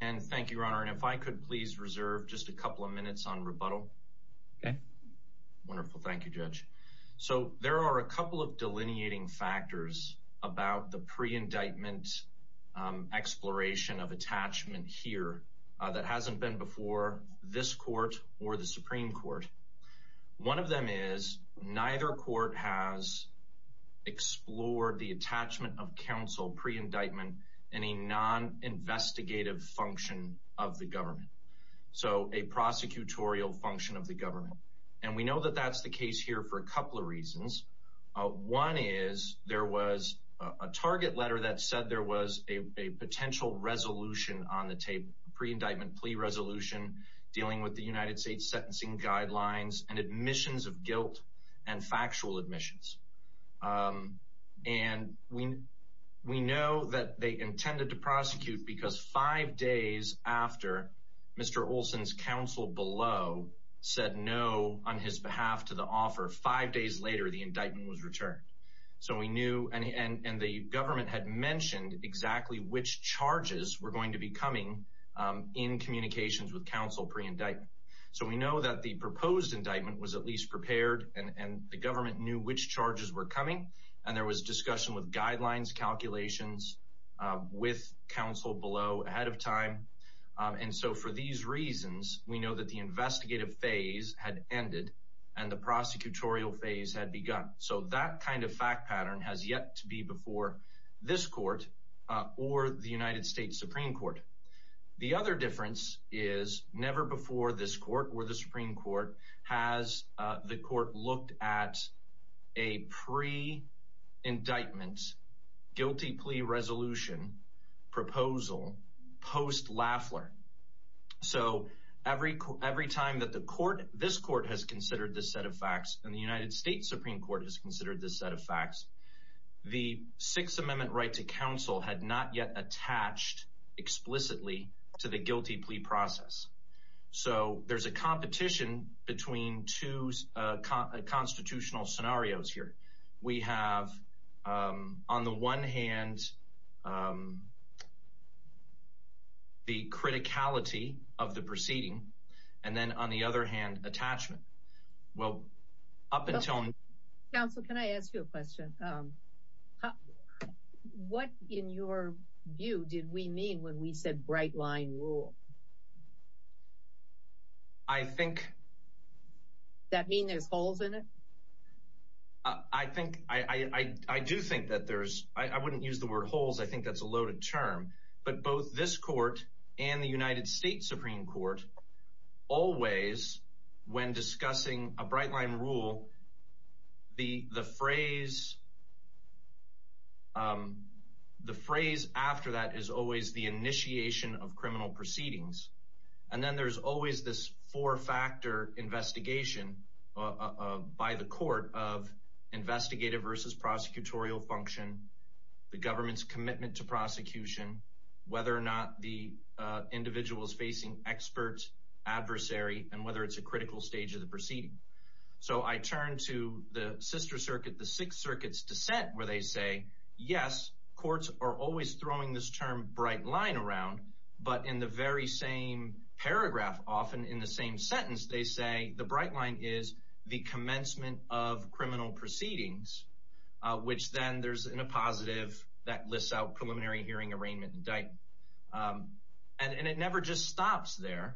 and thank you your honor and if I could please reserve just a couple of minutes on rebuttal okay wonderful thank you judge so there are a couple of delineating factors about the pre-indictment exploration of attachment here that hasn't been before this court or the Supreme Court one of them is neither court has explored the attachment of counsel pre-indictment in non-investigative function of the government so a prosecutorial function of the government and we know that that's the case here for a couple of reasons one is there was a target letter that said there was a potential resolution on the tape pre-indictment plea resolution dealing with the United States sentencing guidelines and admissions of guilt and factual admissions and we we know that they intended to prosecute because five days after mr. Olson's counsel below said no on his behalf to the offer five days later the indictment was returned so we knew and and the government had mentioned exactly which charges were going to be coming in communications with counsel pre-indictment so we know that the proposed indictment was at the government knew which charges were coming and there was discussion with guidelines calculations with counsel below ahead of time and so for these reasons we know that the investigative phase had ended and the prosecutorial phase had begun so that kind of fact pattern has yet to be before this court or the United States Supreme Court the other difference is never before this pre-indictment guilty plea resolution proposal post Lafleur so every every time that the court this court has considered the set of facts in the United States Supreme Court is considered the set of facts the Sixth Amendment right to counsel had not yet attached explicitly to the guilty plea process so there's a competition between two constitutional scenarios here we have on the one hand the criticality of the proceeding and then on the other hand attachment well up until now so can I ask you a question what in your view did we mean when we said bright line rule I think that mean there's holes in it I think I I do think that there's I wouldn't use the word holes I think that's a loaded term but both this court and the United States Supreme Court always when discussing a bright line rule the the phrase the phrase after that is always the initiation of criminal proceedings and then there's always this four-factor investigation by the court of investigative versus prosecutorial function the government's commitment to experts adversary and whether it's a critical stage of the proceeding so I turn to the sister circuit the Sixth Circuit's dissent where they say yes courts are always throwing this term bright line around but in the very same paragraph often in the same sentence they say the bright line is the commencement of criminal proceedings which then there's in a positive that never just stops there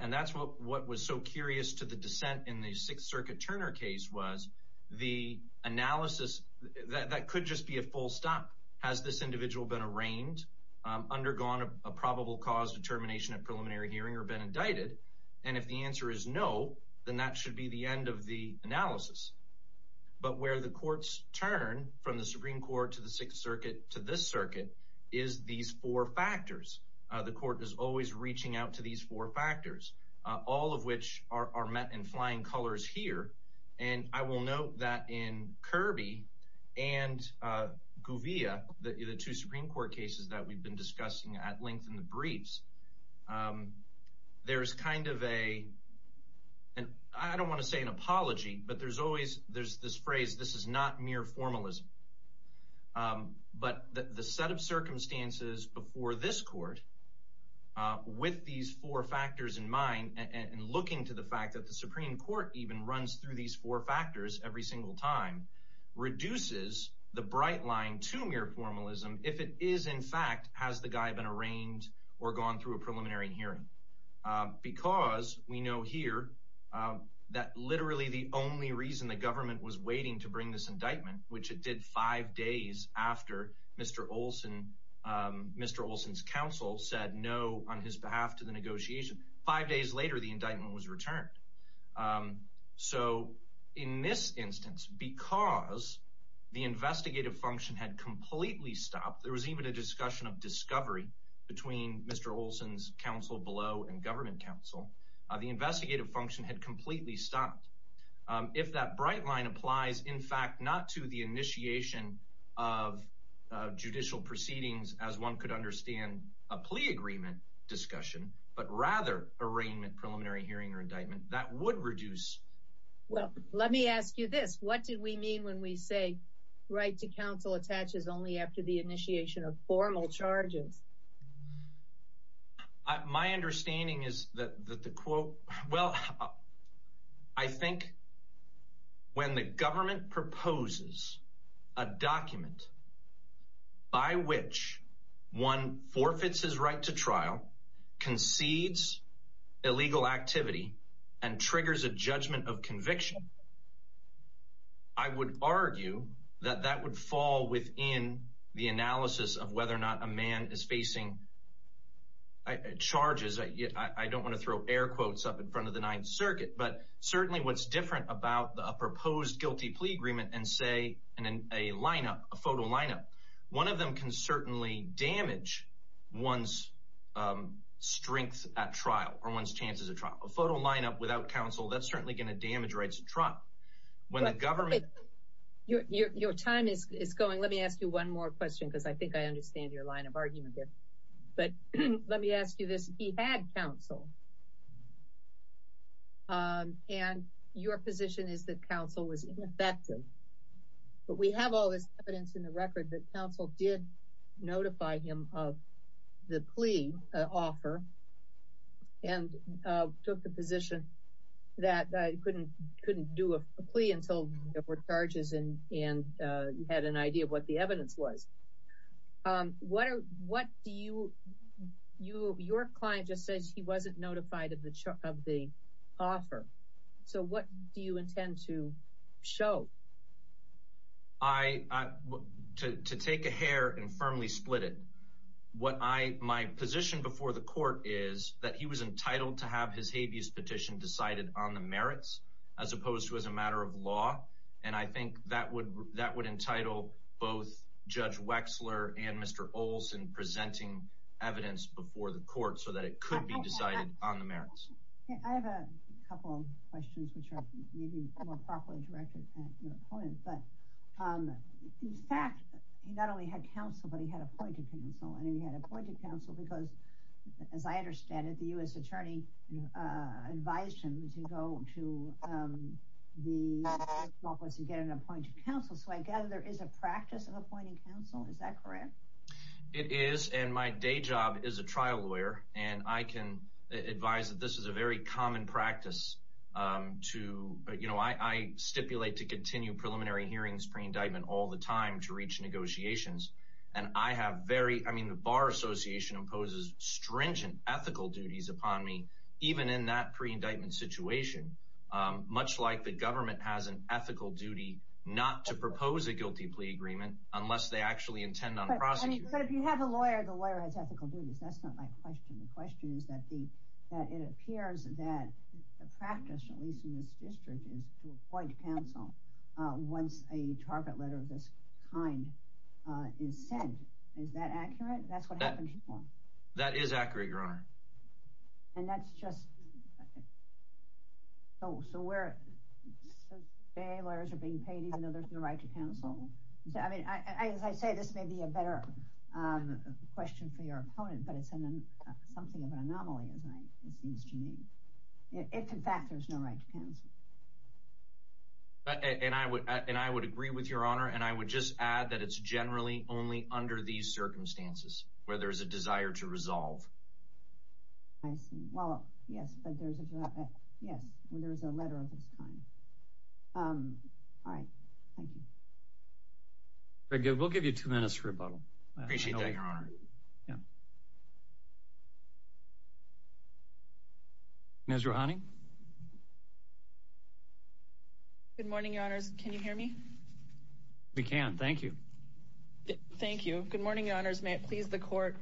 and that's what was so curious to the dissent in the Sixth Circuit Turner case was the analysis that could just be a full stop has this individual been arraigned undergone a probable cause determination of preliminary hearing or been indicted and if the answer is no then that should be the end of the analysis but where the courts turn from the Supreme Court to the Sixth Circuit to this circuit is these four factors the court is always reaching out to these four factors all of which are met in flying colors here and I will note that in Kirby and Guvia the two Supreme Court cases that we've been discussing at length in the briefs there's kind of a and I don't want to say an apology but there's always there's this phrase this is not mere formalism but the set of circumstances before this court with these four factors in mind and looking to the fact that the Supreme Court even runs through these four factors every single time reduces the bright line to mere formalism if it is in fact has the guy been arraigned or gone through a preliminary hearing because we know here that literally the only reason the indictment which it did five days after mr. Olson mr. Olson's counsel said no on his behalf to the negotiation five days later the indictment was returned so in this instance because the investigative function had completely stopped there was even a discussion of discovery between mr. Olson's counsel below and government counsel the investigative function had completely stopped if that right line applies in fact not to the initiation of judicial proceedings as one could understand a plea agreement discussion but rather arraignment preliminary hearing or indictment that would reduce well let me ask you this what did we mean when we say right to counsel attaches only after the when the government proposes a document by which one forfeits his right to trial concedes illegal activity and triggers a judgment of conviction I would argue that that would fall within the analysis of whether or not a man is facing charges I don't want to throw air quotes up in front of the Ninth Circuit but certainly what's different about the proposed guilty plea agreement and say and then a lineup a photo lineup one of them can certainly damage one's strength at trial or one's chances of trial a photo lineup without counsel that's certainly going to damage rights truck when the government your time is going let me ask you one more question because I think I understand your line of argument but let me ask you this he had counsel and your position is that counsel was ineffective but we have all this evidence in the record that counsel did notify him of the plea offer and took the position that I couldn't couldn't do a plea until there were charges and and you had an idea of what the evidence was what are you your client just says he wasn't notified of the offer so what do you intend to show I to take a hair and firmly split it what I my position before the court is that he was entitled to have his habeas petition decided on the merits as opposed to as a matter of law and I think that would that would entitle both judge Wexler and Mr. Olson presenting evidence before the court so that it could be decided on the merits in fact he not only had counsel but he had appointed counsel and he had appointed counsel because as I understand it the u.s. attorney advised him to go to the office and get an appointed counsel so I gather there is a it is and my day job is a trial lawyer and I can advise that this is a very common practice to you know I stipulate to continue preliminary hearings pre-indictment all the time to reach negotiations and I have very I mean the Bar Association imposes stringent ethical duties upon me even in that pre-indictment situation much like the government has an ethical duty not to have a lawyer the lawyer has ethical duties that's not my question the question is that the that it appears that the practice at least in this district is to appoint counsel once a target letter of this kind is sent is that accurate that's what that is accurate your honor and that's just oh so we're lawyers are being paid even though there's no right to counsel so I say this may be a better question for your opponent but it's an anomaly as I it seems to me if in fact there's no right to counsel and I would and I would agree with your honor and I would just add that it's generally only under these circumstances where there is a desire to resolve I see well yes but there's a there's a letter of this kind all right thank you very good we'll give you two minutes for a bottle appreciate that your honor yeah mr. honey good morning your honors can you hear me we can't thank you thank you good morning your honors may it please the court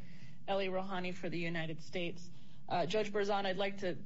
le rohani for the United States judge Berzon I'd like to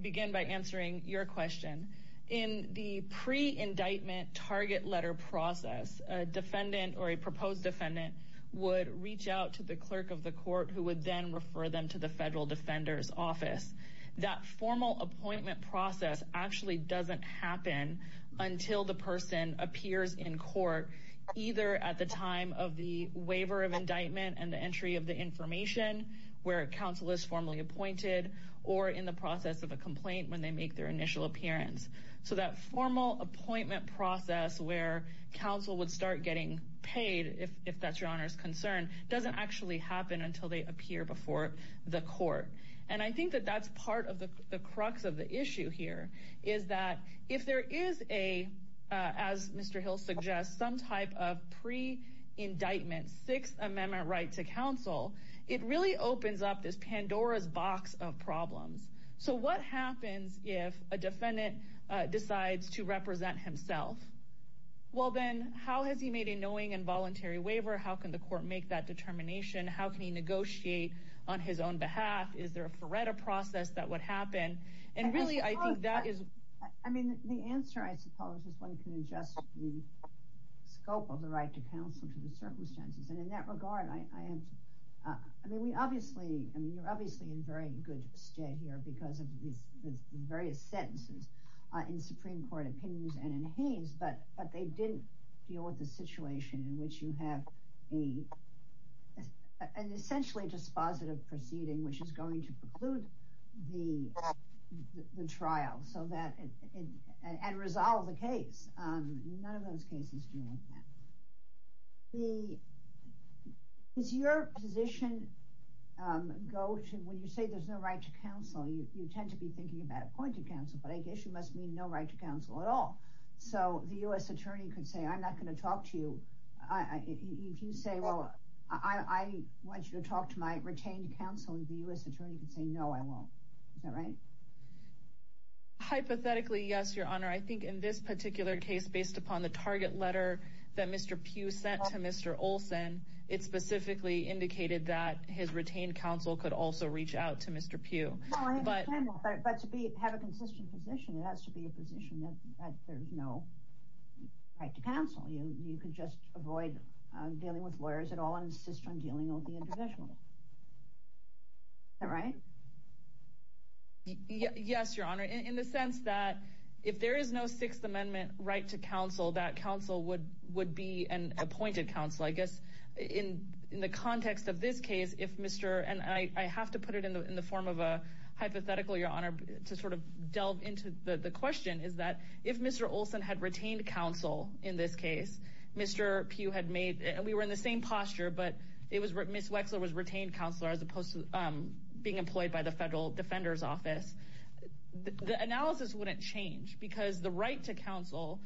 begin by answering your question in the pre indictment target letter process a defendant or a proposed defendant would reach out to the clerk of the court who would then refer them to the federal defenders office that formal appointment process actually doesn't happen until the person appears in court either at the time of the waiver of indictment and entry of the information where counsel is formally appointed or in the process of a complaint when they make their initial appearance so that formal appointment process where counsel would start getting paid if that's your honor's concern doesn't actually happen until they appear before the court and I think that that's part of the crux of the issue here is that if there is a as it really opens up this Pandora's box of problems so what happens if a defendant decides to represent himself well then how has he made a knowing involuntary waiver how can the court make that determination how can he negotiate on his own behalf is there a Faretta process that would happen and really I think that is I mean the answer I suppose is one can adjust the scope of right to counsel to the circumstances and in that regard I am I mean we obviously I mean you're obviously in very good state here because of these various sentences in Supreme Court opinions and in Haynes but but they didn't deal with the situation in which you have a an essentially dispositive proceeding which is going to preclude the the trial so that and resolve the is your position go to when you say there's no right to counsel you tend to be thinking about appointed counsel but I guess you must mean no right to counsel at all so the u.s. attorney could say I'm not going to talk to you I if you say well I want you to talk to my retained counsel in the u.s. attorney could say no I won't all right hypothetically yes your honor I think in this particular case based upon the target letter that mr. Pugh sent to mr. Olson it specifically indicated that his retained counsel could also reach out to mr. Pugh you could just avoid dealing with lawyers at all insist on dealing with the individual all right yes your honor in the sense that if there is no Sixth Amendment right to counsel that counsel would would be an appointed counsel I guess in in the context of this case if mr. and I have to put it in the in the form of a hypothetical your honor to sort of delve into the question is that if mr. Olson had retained counsel in this case mr. Pugh had made and we were in the same posture but it was written miss Wexler was retained counselor as opposed to being employed by the Federal Defender's Office the right to counsel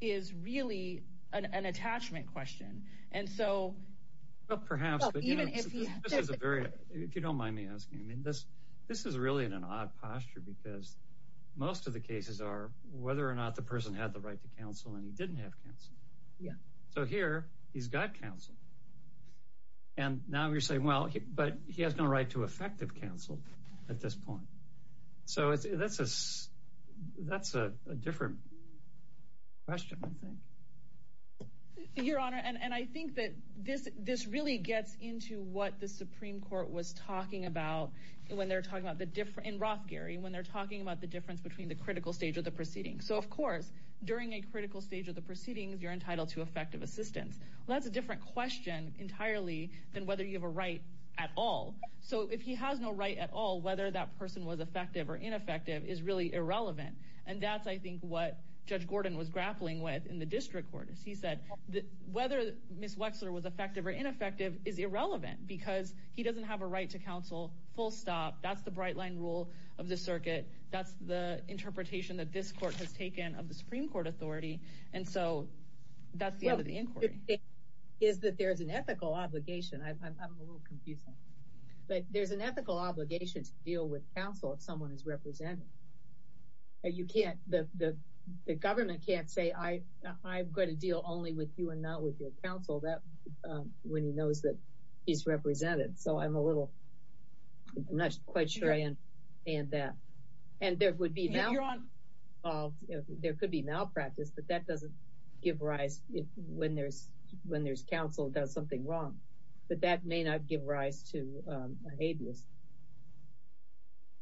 is really an attachment question and so perhaps if you don't mind me asking this this is really in an odd posture because most of the cases are whether or not the person had the right to counsel and he didn't have counsel yeah so here he's got counsel and now you're saying well but he has no right to effective counsel at this point so it's that's us that's a different question I think your honor and and I think that this this really gets into what the Supreme Court was talking about when they're talking about the different Roth Gary when they're talking about the difference between the critical stage of the proceedings so of course during a critical stage of the proceedings you're entitled to effective assistance that's a different question entirely than whether you have a right at all so if he has no right at all whether that person was effective or ineffective is really irrelevant and that's I think what judge Gordon was grappling with in the district court as he said whether miss Wexler was effective or ineffective is irrelevant because he doesn't have a right to counsel full stop that's the bright line rule of the circuit that's the interpretation that this court has taken of the Supreme Court authority and so that's the end of the inquiry is that there's an ethical obligation I'm a little confused but there's an ethical obligation to deal with counsel if someone is represented and you can't the government can't say I I'm going to deal only with you and not with your counsel that when he knows that he's represented so I'm a little I'm not quite sure and and that and there would be now there could be malpractice but that doesn't give rise if when there's when there's counsel does something wrong but that may not give rise to abuse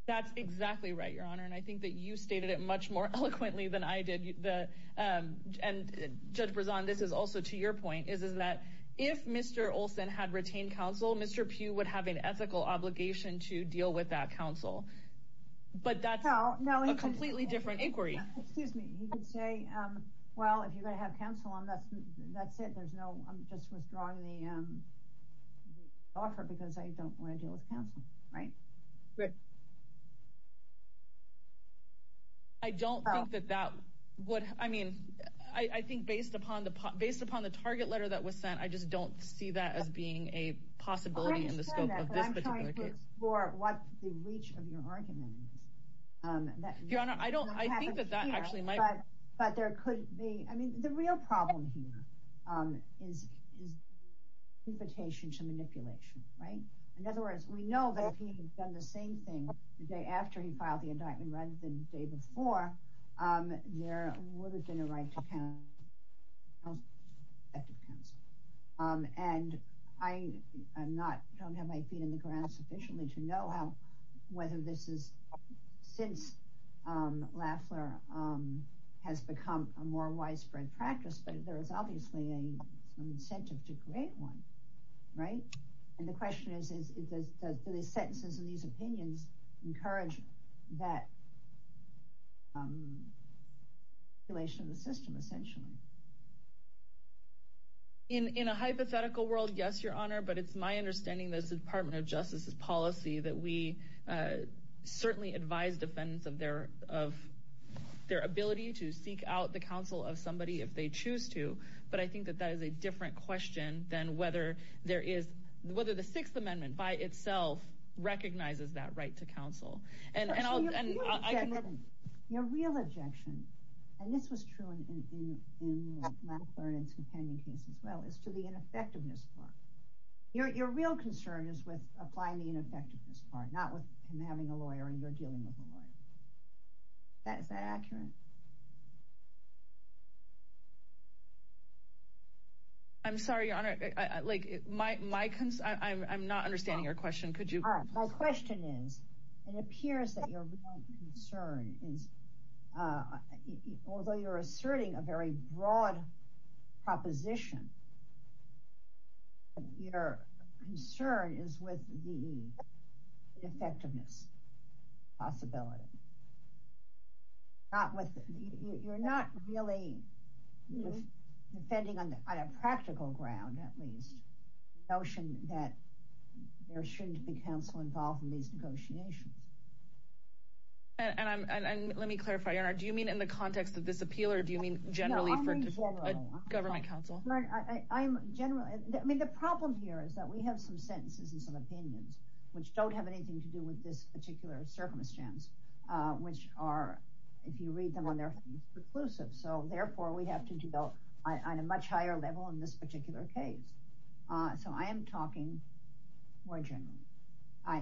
that's exactly right your honor and I think that you stated it much more eloquently than I did the judge was on this is also to your point is is that if mr. Olsen had retained counsel mr. Pugh would have an ethical obligation to deal with that counsel but that's how now completely different inquiry excuse me say well if you're gonna have counsel unless that's it there's no I'm just withdrawing the offer because I don't want to deal with counsel right good I don't know that that what I mean I think based upon the based upon the target letter that was sent I just don't see that as being a possibility in the scope of this for what the reach of your argument your honor I don't I think that that actually my but there could be I is invitation to manipulation right in other words we know that he had done the same thing the day after he filed the indictment rather than day before there would have been a right to counsel and I am NOT don't have my feet in the ground sufficiently to know how whether this is since Lafleur has become a more there is obviously a incentive to create one right and the question is is it does the sentences in these opinions encourage that relation the system essentially in in a hypothetical world yes your honor but it's my understanding this Department of Justice's policy that we certainly advise defendants of their of their ability to seek out the counsel of somebody if they choose to but I think that that is a different question than whether there is whether the Sixth Amendment by itself recognizes that right to counsel and your real objection and this was true as well as to the ineffectiveness part your real concern is with applying the ineffectiveness part not with him having a lawyer and you're dealing with the lawyer that is that accurate I'm sorry your honor like my my concern I'm not understanding your question could you my question is it appears that your concern is although you're asserting a broad proposition your concern is with the effectiveness possibility not with you're not really defending on a practical ground at least notion that there shouldn't be counsel involved in these negotiations and I'm and let me government counsel I mean the problem here is that we have some sentences and some opinions which don't have anything to do with this particular circumstance which are if you read them on their reclusive so therefore we have to do though I'm a much higher level in this particular case so I am talking more I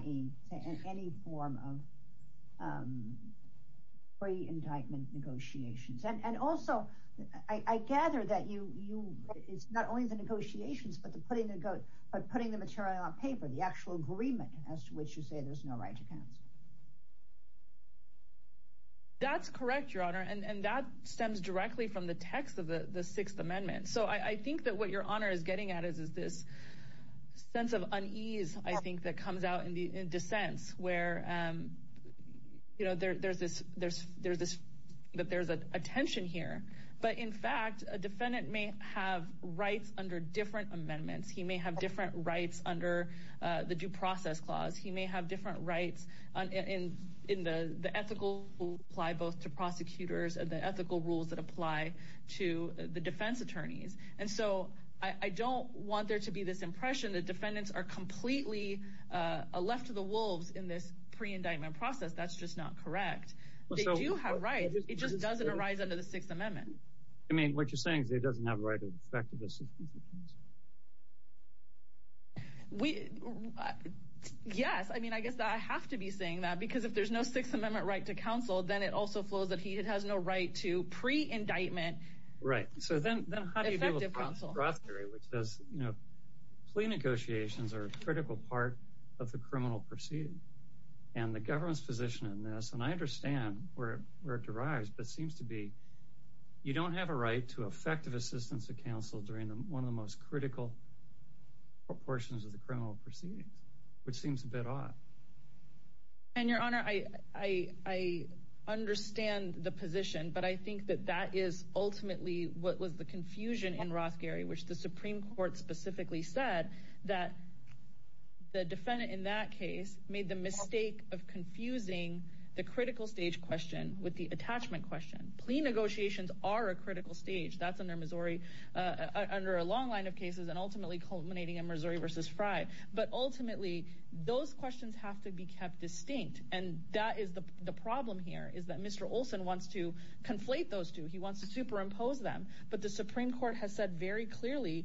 gather that you you it's not only the negotiations but the putting the goat but putting the material on paper the actual agreement as to which you say there's no right to counsel that's correct your honor and and that stems directly from the text of the the Sixth Amendment so I think that what your honor is getting at is is this sense of unease I think that comes out in the in dissents where you know there's this there's there's this but there's a attention here but in fact a defendant may have rights under different amendments he may have different rights under the due process clause he may have different rights in in the the ethical apply both to prosecutors and the ethical rules that apply to the defense attorneys and so I don't want there to be this impression that defendants are completely left to the wolves in this pre-indictment process that's just not correct well so you have right it just doesn't arise under the Sixth Amendment I mean what you're saying is it doesn't have a right of effective assistance we yes I mean I guess that I have to be saying that because if there's no Sixth Amendment right to counsel then it also flows that he has no right to pre indictment right so then you know plea negotiations are a critical part of the where it derives but seems to be you don't have a right to effective assistance of counsel during them one of the most critical proportions of the criminal proceedings which seems a bit odd and your honor I I understand the position but I think that that is ultimately what was the confusion in Ross Gary which the Supreme Court specifically said that the defendant in that case made the mistake of confusing the critical stage question with the attachment question plea negotiations are a critical stage that's under Missouri under a long line of cases and ultimately culminating in Missouri versus Frye but ultimately those questions have to be kept distinct and that is the problem here is that mr. Olson wants to conflate those two he wants to superimpose them but the Supreme Court has said very clearly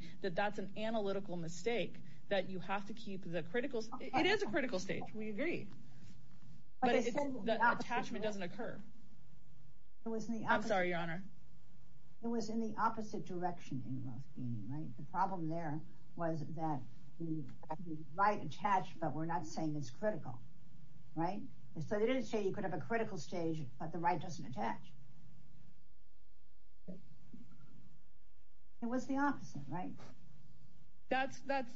that you have to keep the critical it is a critical stage we agree but it doesn't occur it was me I'm sorry your honor it was in the opposite direction right the problem there was that right attached but we're not saying it's critical right so they didn't say you could have a critical stage but the right doesn't attach it was the opposite right that's that's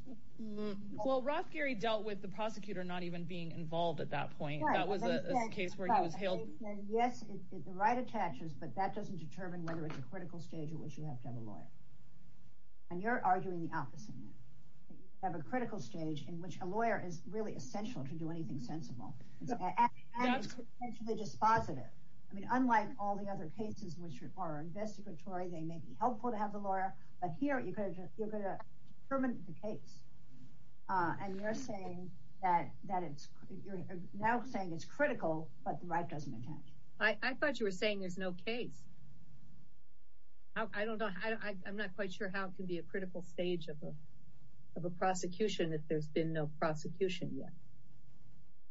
well Ross Gary dealt with the prosecutor not even being involved at that point that was a case where he was hailed yes the right attaches but that doesn't determine whether it's a critical stage at which you have to have a lawyer and you're arguing the opposite have a critical stage in which a lawyer is really essential to do anything sensible just positive I mean unlike all the other cases which are investigatory they may be helpful to have the lawyer but here you could have given a permanent the case and you're saying that that it's now saying it's critical but the right doesn't attach I thought you were saying there's no case I don't know I'm not quite sure how it can be a critical stage of a prosecution if there's been no prosecution yet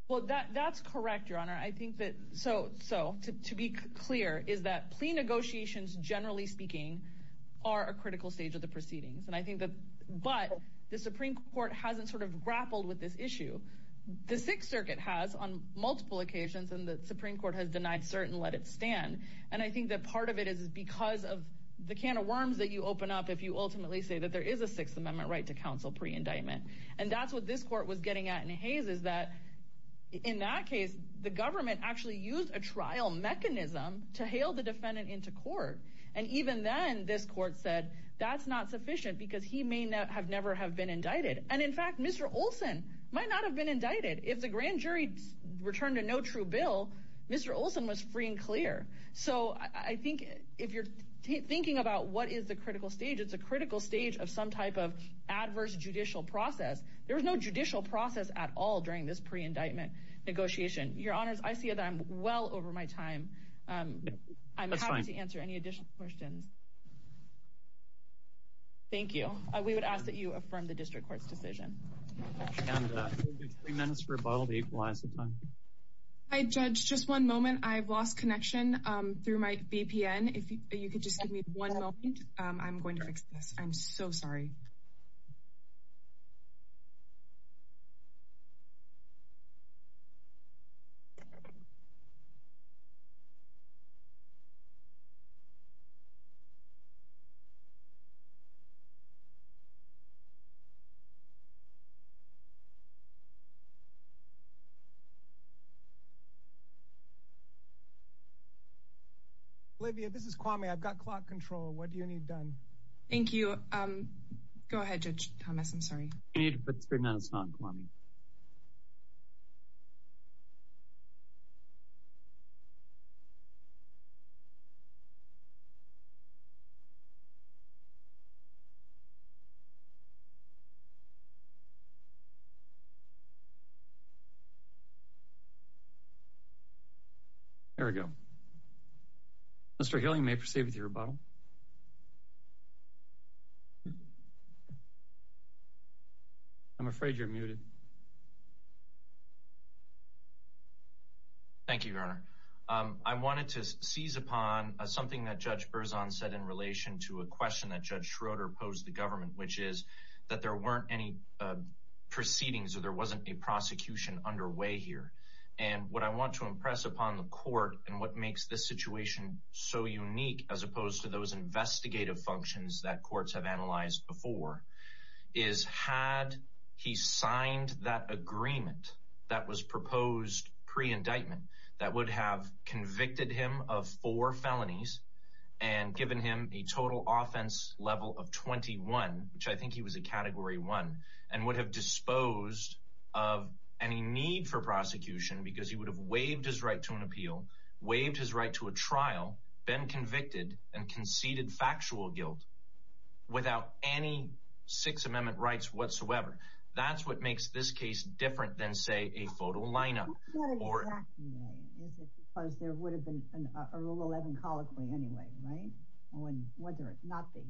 well that that's correct your honor I think that so so to be clear is that plea negotiations generally speaking are a critical stage of the proceedings and I think that but the Supreme Court hasn't sort of grappled with this issue the Sixth Circuit has on multiple occasions and the Supreme Court has denied certain let it stand and I think that part of it is because of the can of worms that you open up if you ultimately say that there is a Sixth Amendment right to counsel pre-indictment and that's what this court was getting at in Hayes is that in that case the government actually used a trial mechanism to hail the defendant into court and even then this court said that's not sufficient because he may not have never have been indicted and in fact mr. Olson might not have been indicted if the grand jury returned a no true bill mr. Olson was free and clear so I think if you're thinking about what is the critical stage it's a critical stage of some type of adverse judicial process there was no judicial process at all during this pre-indictment negotiation your honors I see that I'm well over my time I'm sorry to answer any additional questions thank you we would ask that you affirm the district court's decision I judge just one moment I've lost connection through my VPN if you could just give me one moment I'm so sorry Olivia this is Kwame I've got clock control what do you need done thank you go ahead judge Thomas I'm sorry you need to put screen on it's not Kwame there we go Mr. Hilling may proceed with your rebuttal I'm afraid you're muted thank you your honor I wanted to seize upon something that judge Berzon said in relation to a question that judge Schroeder posed the government which is that there weren't any proceedings or there wasn't a prosecution underway here and what I want to impress upon the court and what makes this situation so unique as opposed to those investigative functions that courts have analyzed before is had he signed that agreement that was proposed pre-indictment that would have convicted him of four felonies and given him a total offense level of 21 which I think he was a category one and would have disposed of any need for prosecution because he would have waived his right to an appeal waived his right to a trial been convicted and conceded factual guilt without any Sixth Amendment rights whatsoever that's what makes this case different than say a photo line-up there would have been a rule 11 colloquy anyway right whether it not be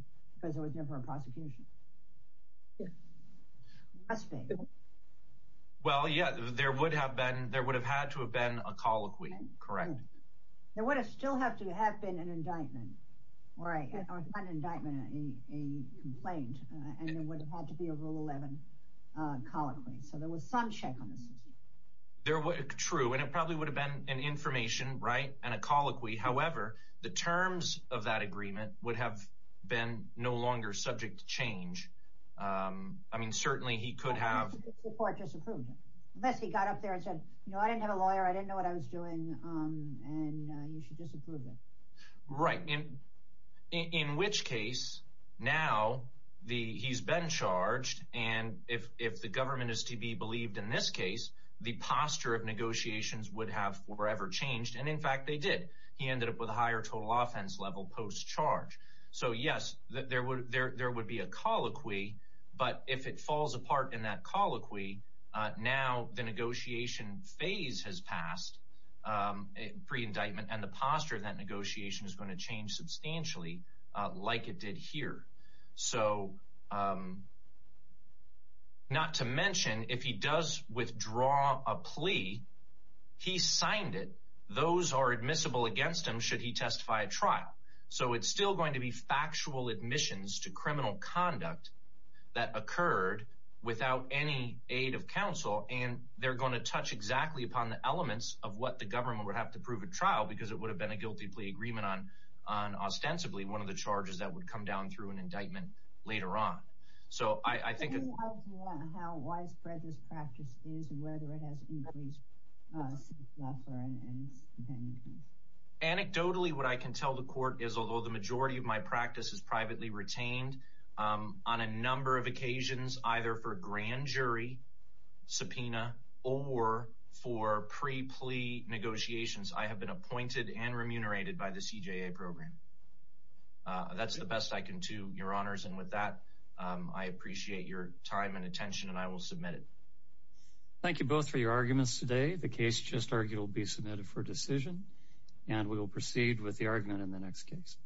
because it was never a prosecution well yeah there would have been there would have had to have been a colloquy correct there would have still have to have been an indictment or a complaint and there would have had to be a rule 11 colloquy so there was some check on this there were true and it probably would have been an information right and a colloquy however the terms of that agreement would have been no longer subject to change I mean certainly he could have unless he got up there and right in in which case now the he's been charged and if if the government is to be believed in this case the posture of negotiations would have forever changed and in fact they did he ended up with a higher total offense level post-charge so yes that there would there there would be a colloquy but if it falls has passed pre-indictment and the posture that negotiation is going to change substantially like it did here so not to mention if he does withdraw a plea he signed it those are admissible against him should he testify a trial so it's still going to be factual admissions to criminal conduct that exactly upon the elements of what the government would have to prove a trial because it would have been a guilty plea agreement on on ostensibly one of the charges that would come down through an indictment later on so I think anecdotally what I can tell the court is although the majority of my practice is privately retained on a number of occasions either for grand jury subpoena or for pre plea negotiations I have been appointed and remunerated by the CJA program that's the best I can to your honors and with that I appreciate your time and attention and I will submit it thank you both for your arguments today the case just argued will be submitted for decision and we will proceed with the argument in the next case